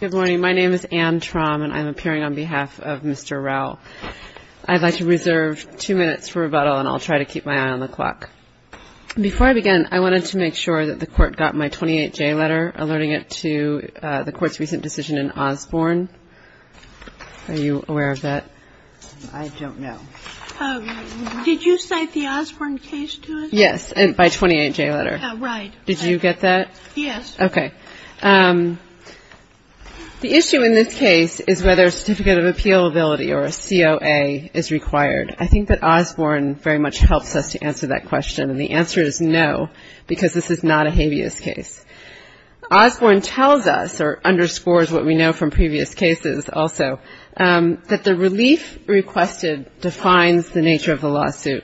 Good morning. My name is Anne Traum, and I'm appearing on behalf of Mr. Rowell. I'd like to reserve two minutes for rebuttal, and I'll try to keep my eye on the clock. Before I begin, I wanted to make sure that the Court got my 28J letter alerting it to the Court's recent decision in Osborne. Are you aware of that? I don't know. Did you cite the Osborne case to us? Yes, by 28J letter. Right. Did you get that? Yes. Okay. The issue in this case is whether a Certificate of Appeal Ability, or a COA, is required. I think that Osborne very much helps us to answer that question, and the answer is no, because this is not a habeas case. Osborne tells us, or underscores what we know from previous cases also, that the relief requested defines the nature of the lawsuit.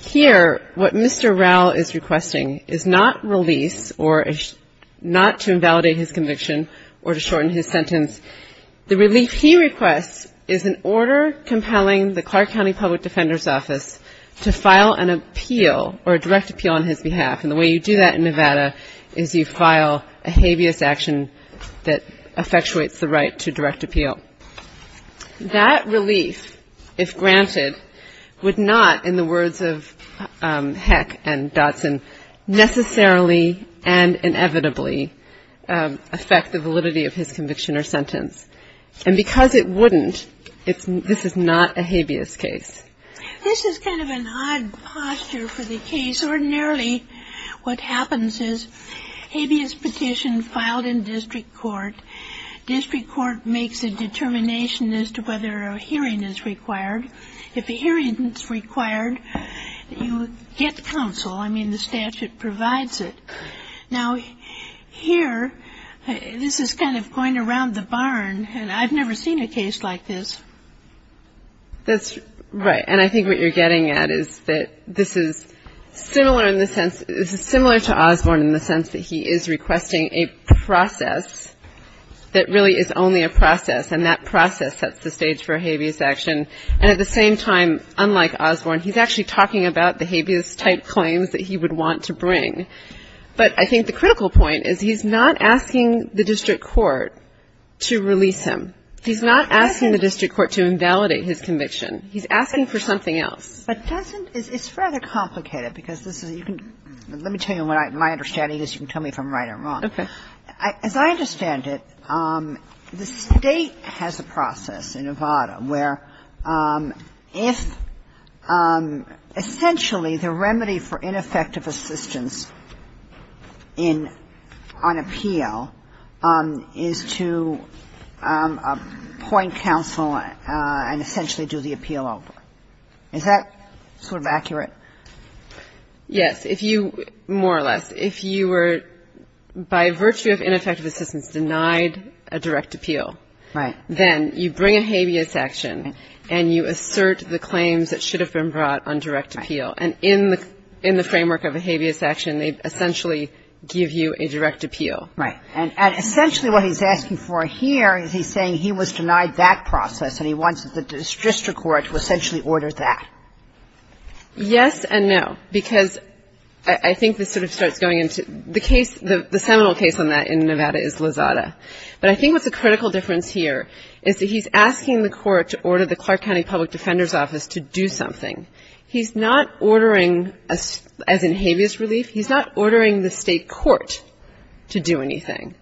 Here, what Mr. Rowell is requesting is not release, or not to invalidate his conviction, or to shorten his sentence. The relief he requests is an order compelling the Clark County Public Defender's Office to file an appeal, or a direct appeal, on his behalf. And the way you do that in Nevada is you file a habeas action that effectuates the right to direct appeal. That relief, if granted, would not, in the words of Heck and Dotson, necessarily and inevitably affect the validity of his conviction or sentence. And because it wouldn't, this is not a habeas case. This is kind of an odd posture for the case. Ordinarily, what happens is, habeas petition filed in district court, district court makes a deduction. It's a determination as to whether a hearing is required. If a hearing is required, you get counsel. I mean, the statute provides it. Now, here, this is kind of going around the barn, and I've never seen a case like this. That's right. And I think what you're getting at is that this is similar in the sense, this is similar to Osborne in the sense that he is requesting a process that really is only a process, and that process sets the stage for a habeas action. And at the same time, unlike Osborne, he's actually talking about the habeas-type claims that he would want to bring. But I think the critical point is he's not asking the district court to release him. He's not asking the district court to invalidate his conviction. He's asking for something else. But doesn't — it's rather complicated, because this is — let me tell you what my understanding is. You can tell me if I'm right or wrong. Okay. As I understand it, the State has a process in Nevada where if — essentially, the remedy for ineffective assistance in — on appeal is to appoint counsel and essentially do the appeal over. Is that sort of accurate? Yes. If you — more or less. If you were, by virtue of ineffective assistance, denied a direct appeal, then you bring a habeas action and you assert the claims that should have been brought on direct appeal. And in the framework of a habeas action, they essentially give you a direct appeal. Right. And essentially what he's asking for here is he's saying he was denied that process and he wants the district court to essentially order that. Yes and no. Because I think this sort of starts going into — the case — the seminal case on that in Nevada is Lozada. But I think what's a critical difference here is that he's asking the court to order the Clark County Public Defender's Office to do something. He's not ordering — as in habeas relief, he's not ordering the state court to do anything.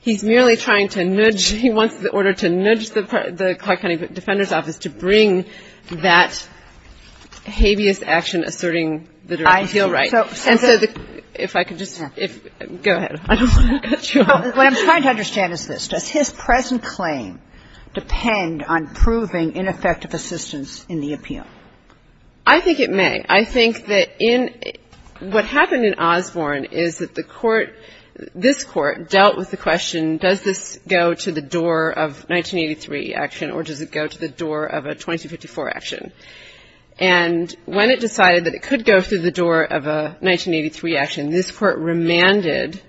He's merely trying to nudge — he wants the order to nudge the Clark County Defender's Office to bring that habeas action asserting the direct appeal right. And so the — if I could just — go ahead. I don't want to cut you off. What I'm trying to understand is this. Does his present claim depend on proving ineffective assistance in the appeal? I think it may. I think that in — what happened in Osborne is that the court — this court dealt with the question, does this go to the door of 1983 action or does it go to the door of a 2254 action? And when it decided that it could go through the door of a 1983 action, this court remanded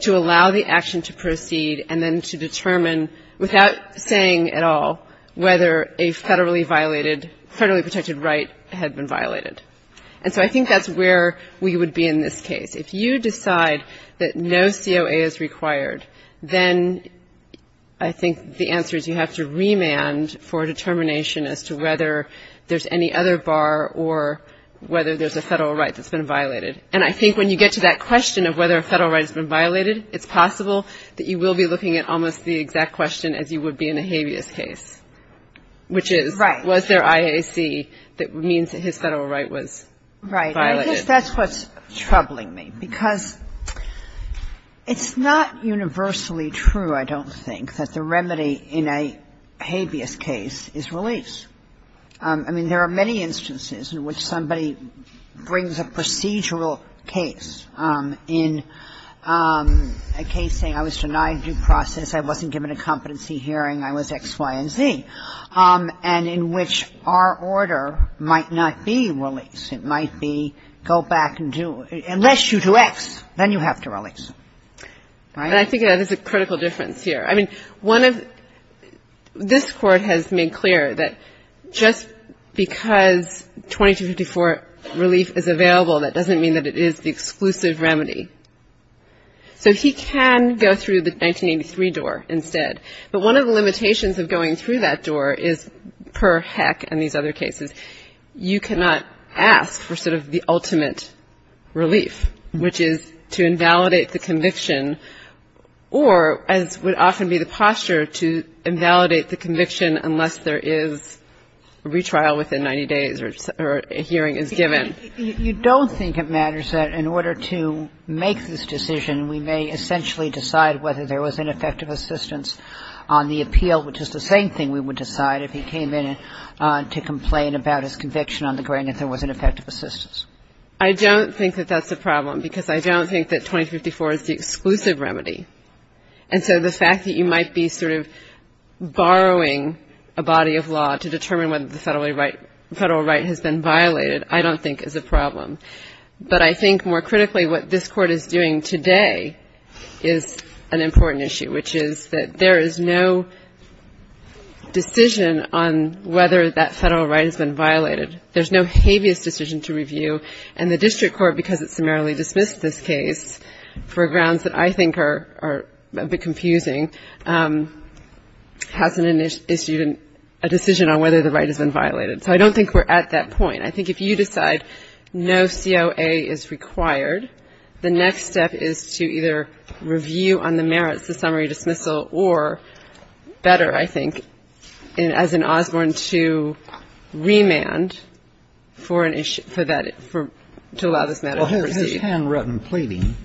to allow the action to proceed and then to determine, without saying at all, whether a federally violated — federally protected right had been violated. And so I think that's where we would be in this case. If you decide that no COA is required, then I think the answer is you have to remand for determination as to whether there's any other bar or whether there's a federal right that's been violated. And I think when you get to that question of whether a federal right has been violated, it's possible that you will be looking at almost the exact question as you would be in a habeas case, which is, was there IAC that means that his federal right was violated? Right. And I guess that's what's troubling me, because it's not universally true, I don't think, that the remedy in a habeas case is release. I mean, there are many instances in which somebody brings a procedural case in a case saying, I was denied due process, I wasn't given a competency hearing, I was X, Y, and Z, and in which our order might not be release. It might be go back and do — unless you do X, then you have to release. Right? And I think there's a critical difference here. I mean, one of — this Court has made clear that just because 2254 relief is available, that doesn't mean that it is the exclusive remedy. So he can go through the 1983 door instead. But one of the limitations of going through that door is, per Heck and these other cases, you cannot ask for sort of the ultimate relief, which is to invalidate the conviction or, as would often be the posture, to invalidate the conviction unless there is a retrial within 90 days or a hearing is given. You don't think it matters that in order to make this decision, we may essentially decide whether there was an effective assistance on the appeal, which is the same thing we would decide if he came in to complain about his conviction on the ground, if there was an effective assistance. I don't think that that's a problem because I don't think that 2254 is the exclusive remedy. And so the fact that you might be sort of borrowing a body of law to determine whether the federal right has been violated, I don't think is a problem. But I think, more critically, what this Court is doing today is an important issue, which is that there is no decision on whether that federal right has been violated. There's no habeas decision to review. And the District Court, because it summarily dismissed this case for grounds that I think are a bit confusing, hasn't issued a decision on whether the right has been violated. So I don't think we're at that point. I think if you decide no COA is required, the next step is to either review on the merits of summary dismissal or better, I think, as in Osborne, to remand for that, to allow this matter to proceed. Well, his handwritten pleading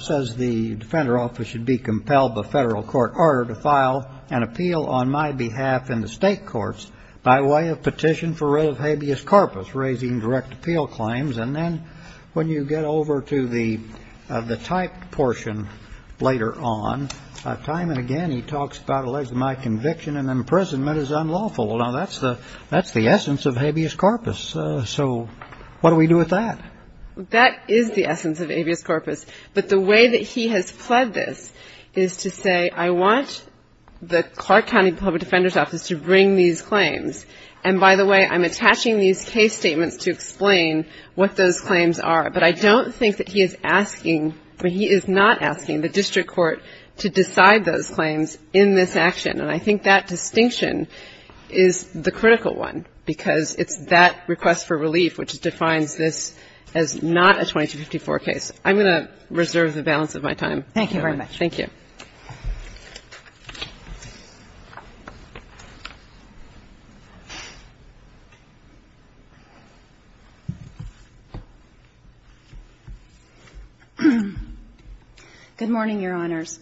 says the Defender Office should be compelled by federal court order to file an appeal on my behalf in the state courts by way of petition for writ of habeas corpus, raising direct appeal claims. And then when you get over to the typed portion later on, time and again he talks about alleging my conviction and imprisonment is unlawful. Now, that's the essence of habeas corpus. So what do we do with that? That is the essence of habeas corpus. But the way that he has fled this is to say, I want the Clark County Public Defender's Office to bring these claims. And by the way, I'm attaching these case statements to explain what those claims are. But I don't think that he is asking, but he is not asking the district court to decide those claims in this action. And I think that distinction is the critical one, because it's that request for relief which defines this as not a 2254 case. I'm going to reserve the balance of my time. Thank you very much. Thank you. Good morning, Your Honors.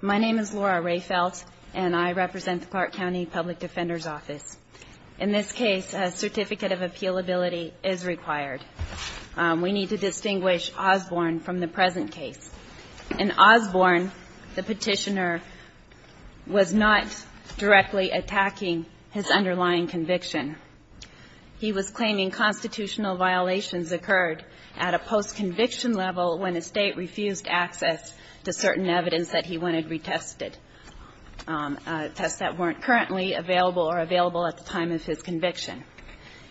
My name is Laura Rehfeldt, and I represent the Clark County Public Defender's Office. In this case, a certificate of appealability is required. We need to distinguish Osborne from the present case. In Osborne, the petitioner was not directly attacking his underlying conviction. He was claiming constitutional violations occurred at a post-conviction level when a state refused access to certain evidence that he wanted retested, tests that weren't currently available or available at the time of his conviction.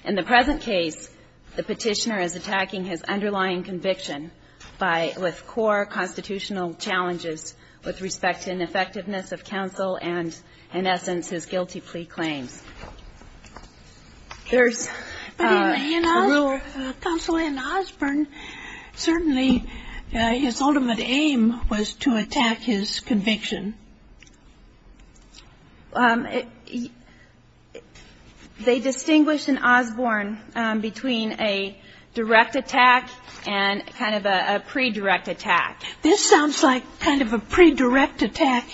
In the present case, the petitioner is attacking his underlying conviction with core constitutional challenges with respect to ineffectiveness of counsel and, in essence, his guilty plea claims. There's a rule... But in Osborne, counsel in Osborne, certainly his ultimate aim was to attack his conviction. They distinguished in Osborne between a direct attack and kind of a pre-direct attack. This sounds like kind of a pre-direct attack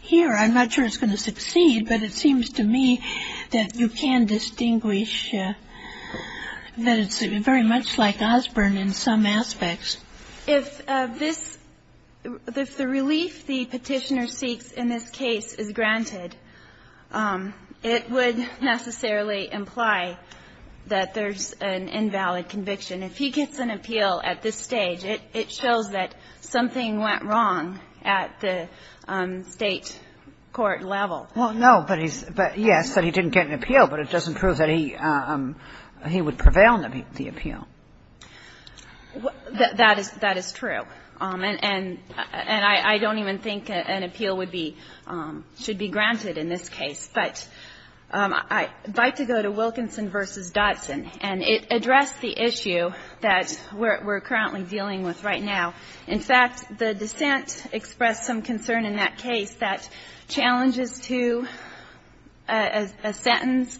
here. I'm not sure it's going to succeed, but it seems to me that you can distinguish that it's very much like Osborne in some aspects. If this... If the relief the petitioner seeks in this case is granted, it would necessarily imply that there's an invalid conviction. If he gets an appeal at this stage, it shows that something went wrong at the state court level. Well, no, but he's... Yes, that he didn't get an appeal, but it doesn't prove that he would prevail on the appeal. That is true. And I don't even think an appeal would be, should be granted in this case. But I'd like to go to Wilkinson v. Dodson, and it addressed the issue that we're currently dealing with right now. In fact, the dissent expressed some concern in that case that challenges to a sentence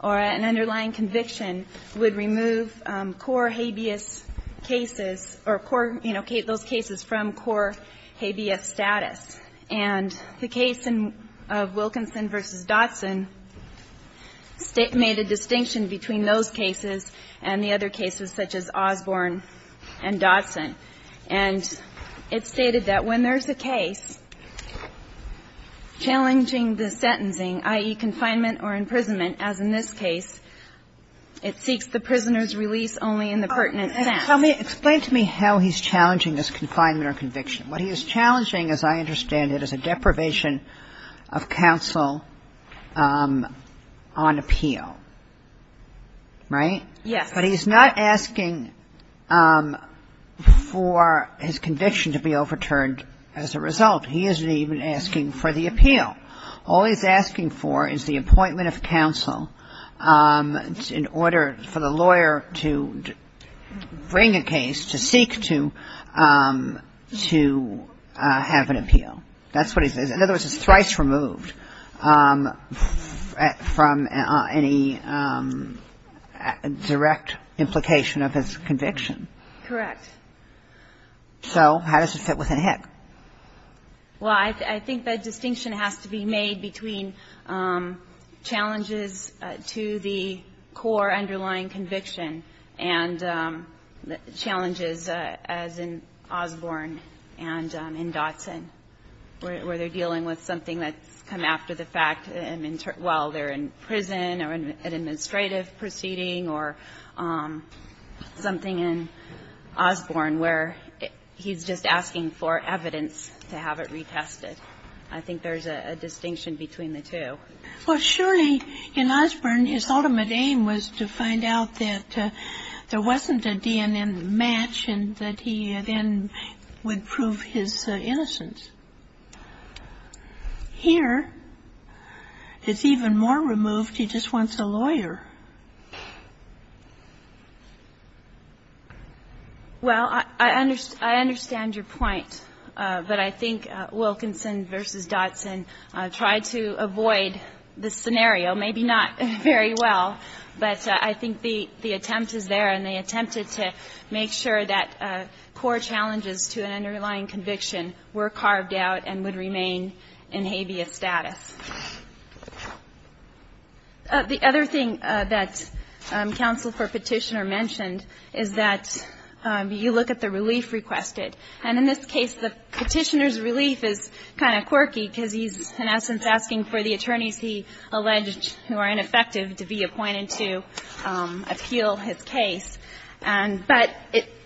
or an underlying conviction would remove core habeas cases, or core, you know, those cases from core habeas status. And the case of Wilkinson v. Dodson made a distinction between those cases and the other cases such as Osborne and Dodson. And it stated that when there's a case challenging the sentencing, i.e., confinement or imprisonment, as in this case, it seeks the prisoner's release only in the pertinent sense. Explain to me how he's challenging this confinement or conviction. What he is challenging, as I understand it, is a deprivation of counsel on appeal, right? Yes. But he's not asking for his conviction to be overturned as a result. He isn't even asking for the appeal. All he's asking for is the appointment of counsel in order for the lawyer to bring a case, to seek to have an appeal. That's what he says. In other words, it's thrice removed from any direct implication of his conviction. Correct. So how does it fit within HIC? Well, I think that distinction has to be made between challenges to the core underlying conviction and challenges, as in Osborne and in Dodson, where they're dealing with something that's come after the fact while they're in prison or an administrative proceeding or something in Osborne where he's just asking for evidence to have it retested. I think there's a distinction between the two. Well, surely in Osborne, his ultimate aim was to find out that there wasn't a DNM match and that he then would prove his innocence. Here, it's even more removed. He just wants a lawyer. Well, I understand your point, but I think Wilkinson v. Dodson tried to avoid this scenario. Maybe not very well, but I think the attempt is there and they attempted to make sure that core challenges to an underlying conviction were carved out and would remain in habeas status. The other thing that counsel for petitioner mentioned is that you look at the relief requested. And in this case, the petitioner's relief is kind of quirky because he's, in essence, asking for the attorneys he alleged who are ineffective to be appointed to appeal his case. But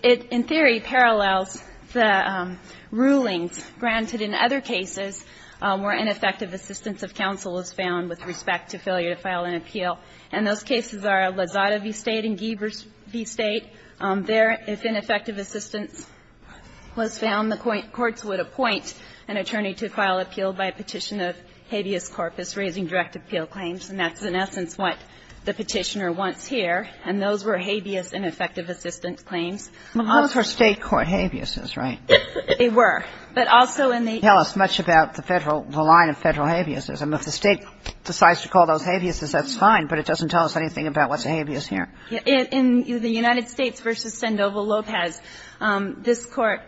it, in theory, parallels the rulings granted in other cases where ineffective assistance of counsel is found with respect to failure to file an appeal. And those cases are Lozada v. State and Giebers v. State. There, if ineffective assistance was found, the courts would appoint an attorney to file appeal by petition of habeas corpus raising direct appeal claims. And that's, in essence, what the petitioner wants here. And those were habeas ineffective assistance claims. Those were State court habeases, right? They were. But also in the... They don't tell us much about the federal, the line of federal habeases. If the State decides to call those habeases, that's fine. But it doesn't tell us anything about what's habeas here. In the United States v. Sandoval Lopez, this Court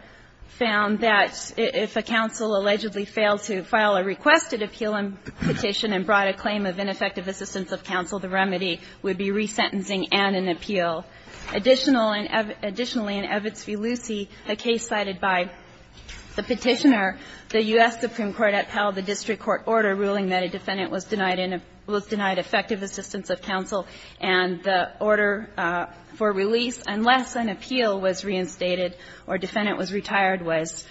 found that if a counsel allegedly failed to file a requested appeal petition and brought a claim of ineffective assistance of counsel, the remedy would be resentencing and an appeal. Additionally, in Evitz v. Lucey, a case cited by the petitioner, the U.S. Supreme Court upheld the district court order ruling that a defendant was denied effective assistance of counsel and the order for release, unless an appeal was reinstated or a defendant was retired was,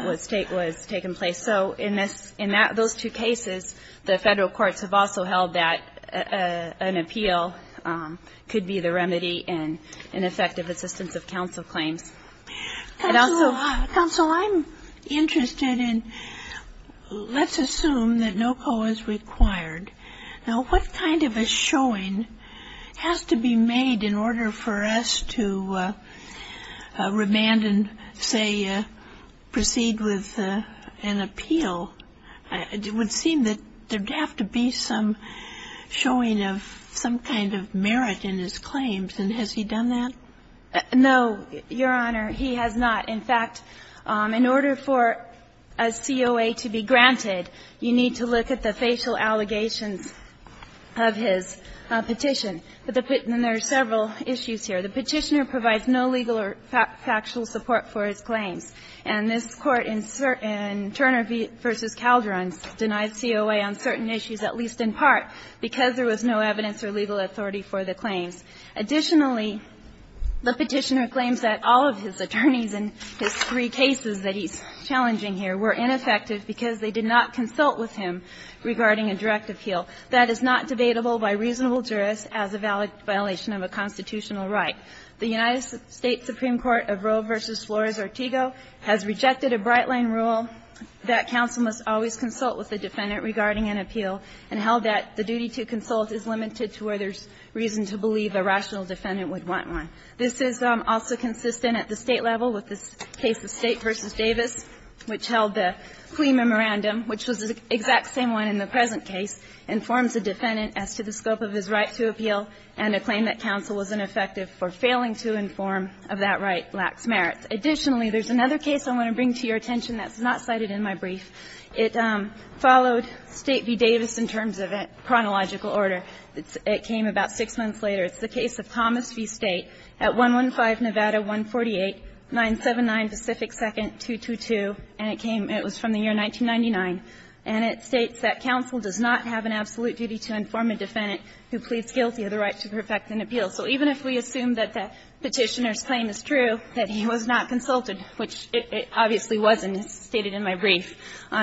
was taken place. So in those two cases, the federal courts have also held that an appeal could be the remedy and an effective assistance of counsel claims. And also... Counsel, I'm interested in... Let's assume that no call is required. Now, what kind of a showing has to be made in order for us to remand and, say, proceed with an appeal? It would seem that there'd have to be some showing of some kind of merit in his claims. And has he done that? No, Your Honor. He has not. In fact, in order for a COA to be granted, you need to look at the facial allegations of his petition. And there are several issues here. The petitioner provides no legal or factual support for his claims. And this Court in Turner v. Calderon denied COA on certain issues, at least in part, because there was no evidence or legal authority for the claims. Additionally, the petitioner claims that all of his attorneys in his three cases that he's challenging here were ineffective because they did not consult with him regarding a direct appeal. That is not debatable by reasonable jurists as a valid violation of a constitutional right. The United States Supreme Court of Roe v. Flores-Ortigo has rejected a Brightline rule that counsel must always consult with the defendant regarding an appeal and held that the duty to consult is limited to where there's reason to believe a rational defendant would want one. This is also consistent at the State level with the case of State v. Davis, which held the plea memorandum, which was the exact same one in the present case, informs the defendant as to the scope of his right to appeal and a claim that counsel was ineffective for failing to inform of that right lacks merit. Additionally, there's another case I want to bring to your attention that's not cited in my brief. It followed State v. Davis in terms of a chronological order. It came about six months later. It's the case of Thomas v. State at 115 Nevada 148979 Pacific 2nd, 222. And it came, it was from the year 1999. And it states that counsel does not have an absolute duty to inform a defendant So even if we assume that the petitioner's claim is true, that he was not consulted, which it obviously wasn't, as stated in my brief,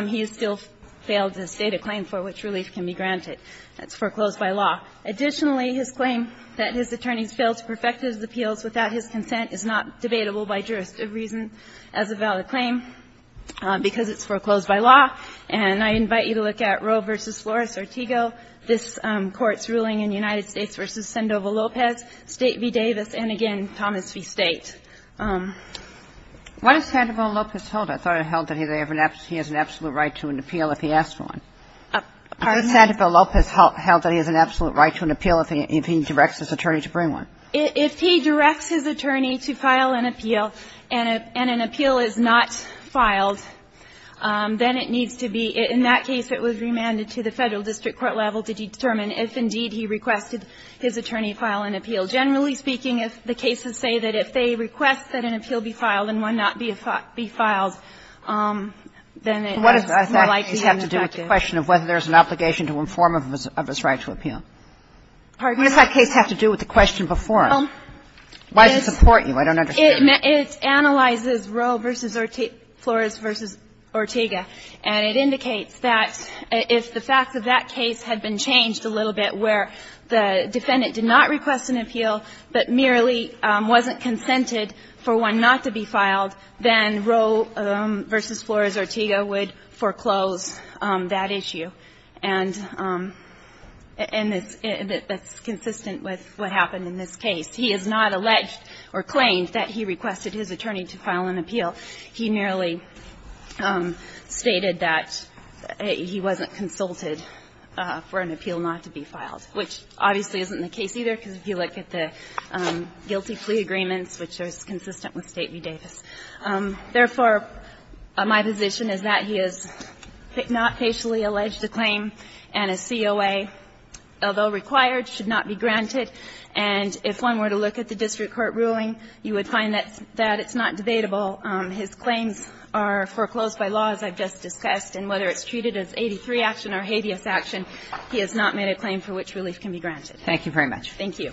he has still failed to state a claim for which relief can be granted. That's foreclosed by law. Additionally, his claim that his attorneys failed to perfect his appeals without his consent is not debatable by jurisdiction as a valid claim because it's foreclosed by law. And I invite you to look at Roe v. Flores-Ortigo, this Court's ruling in United States v. Sendova-Lopez, State v. Davis, and again, Thomas v. State. What does Sendova-Lopez hold? I thought it held that he has an absolute right to an appeal if he asks for one. Pardon me? Does Sendova-Lopez hold that he has an absolute right to an appeal if he directs his attorney to bring one? If he directs his attorney to file an appeal and an appeal is not filed, then it needs to be in that case it was remanded to the Federal District Court level to determine if indeed he requested his attorney file an appeal. Generally speaking, if the cases say that if they request that an appeal be filed and one not be filed, then it's more likely to be defective. What does that case have to do with the question of whether there is an obligation to inform of his right to appeal? Pardon me? What does that case have to do with the question before it? Why does it support you? I don't understand. It analyzes Roe v. Flores v. Ortigo and it indicates that if the facts of that case had been changed a little bit where the defendant did not request an appeal but merely wasn't consented for one not to be filed, then Roe v. Flores v. Ortigo would foreclose that issue. That's consistent with what happened in this case. He has not alleged or claimed that he requested his attorney to file an appeal. He merely stated that he wasn't consulted for an appeal not to be filed, which obviously isn't the case either because if you look at the guilty plea agreements, which are consistent with State v. Davis. Therefore, my position is that he has not facially alleged a claim and a COA, although required, should not be granted. If one were to look at the district court ruling, you would find that it's not debatable. His claims are assessed and whether it's treated as 83 action or habeas action, he has not made a claim for which relief can be granted. Thank you very much. Thank you.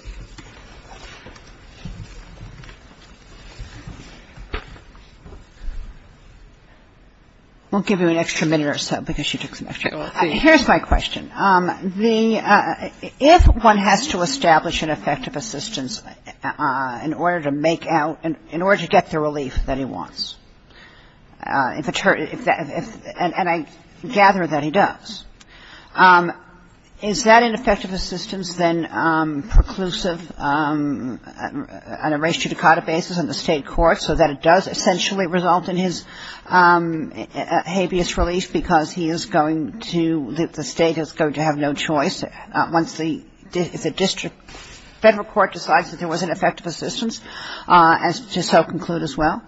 We'll give you an extra minute or so because she took some extra time. Here's my question. If one has to establish an effective assistance in order to make out in order to get the relief that he wants, and I gather that he does, is that an effective assistance than preclusive on a res judicata basis in the state court so that it does essentially result in his habeas relief because he is going to the state is going to have no choice once the district federal court decides that there was an effective assistance to so conclude as well?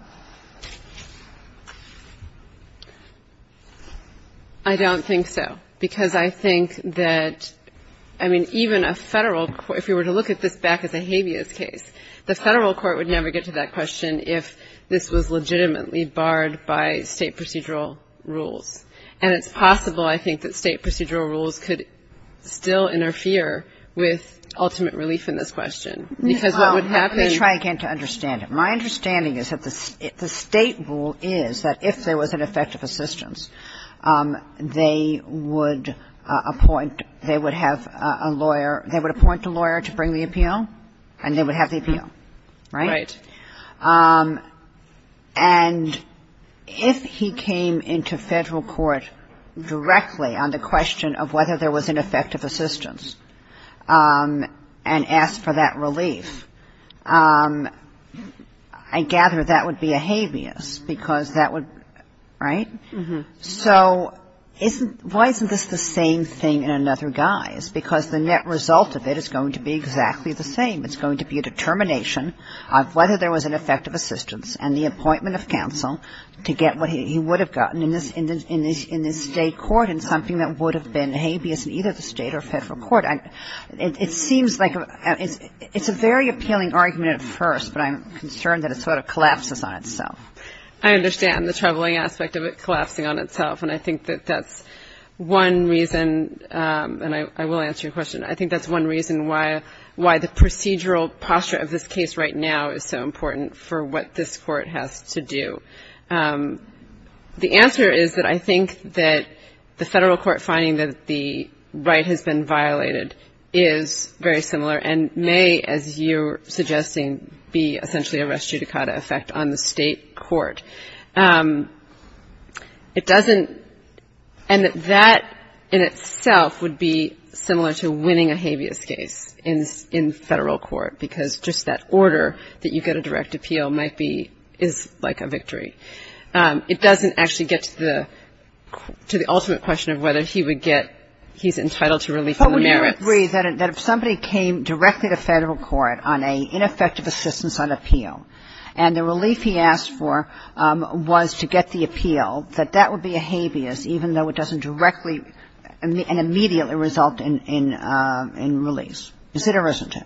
I don't think so. Because I think that I mean, even a federal if you were to look at this back as a habeas case, the federal court would never get to that question if this was legitimately barred by state procedural rules. And it's possible, I think, that state procedural rules could still interfere with ultimate relief in this question. Because what would happen Let me try again to understand it. My understanding is that the state rule is that if there was an effective assistance, they would appoint they would have a lawyer they would appoint a lawyer to bring the appeal and they would have the appeal, right? Right. And if he came into federal court directly on the question of whether there was an effective assistance and asked for that relief, I gather that would be a habeas because that would, right? So why isn't this the same thing in another guise? Because the net result of it is going to be exactly the same. It's going to be a determination of whether there was an effective assistance and the appointment of counsel to get what he would have gotten in this state court and something that would have been habeas in either the state or federal court. It seems like it's a very appealing argument at first but I'm concerned that it sort of collapses on itself. I understand the troubling aspect of it collapsing on itself and I think that that's one reason and I will answer your question I think that's one reason why the procedural posture of this case right now is so important for what this court has to do. The answer is that I think that the federal court finding that the right has been violated is very similar and may, as you're suggesting, be essentially a res judicata effect on the state court. It doesn't and that in itself would be similar to winning a habeas case in federal court because just that order that you get a direct appeal might be is like a victory. It doesn't actually get to the ultimate question of whether he would get he's entitled to relief from the merits. But would you agree that if somebody came directly to federal court on an ineffective assistance on appeal and the relief he asked for was to get the appeal that that would be a habeas even though it doesn't directly and immediately result in release. Is it or isn't it?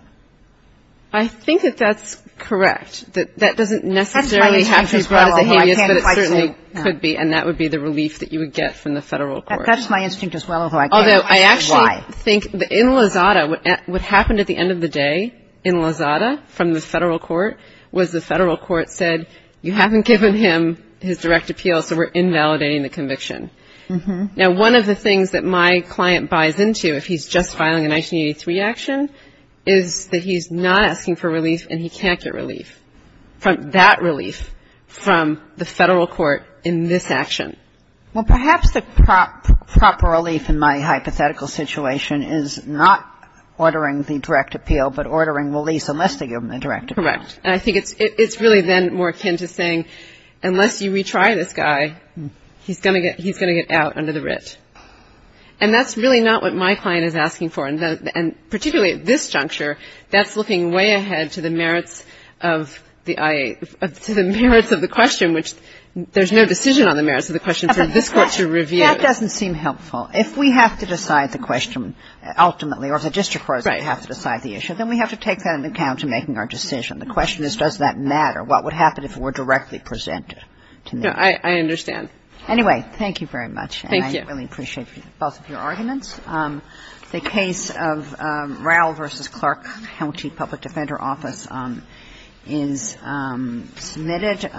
I think that that's correct. That doesn't necessarily have to be brought as a habeas but it certainly could be and that would be the relief that you would get from the federal court. That's my instinct as well. Although I actually think in Lozada what happened at the end of the day in Lozada from the federal court was the federal court said you haven't given him his direct appeal so we're invalidating the conviction. Now one of the things that my client buys into if he's just filing a 1983 action is that he's not asking for relief and he can't get relief. That relief from the federal court in this action. Well perhaps the proper relief in my hypothetical situation is not ordering the direct appeal but ordering release unless they give him the direct appeal. Correct. And I think it's really then more akin to saying unless you retry this guy he's going to get out under the writ. And that's really not what my client is asking for and particularly at this juncture that's looking way ahead to the merits of the IA to the merits of the question which there's no decision on the merits of the question for this Court to review. That doesn't seem helpful. If we have to decide the question ultimately or if the district courts have to decide the issue then we have to take that into account in making our decision. The question is does that matter? What would happen if it were directly presented to me? I understand. Anyway, thank you very much. Thank you. And I really appreciate both of your arguments. The case of Raul v. Clark County Public Defender Office is submitted.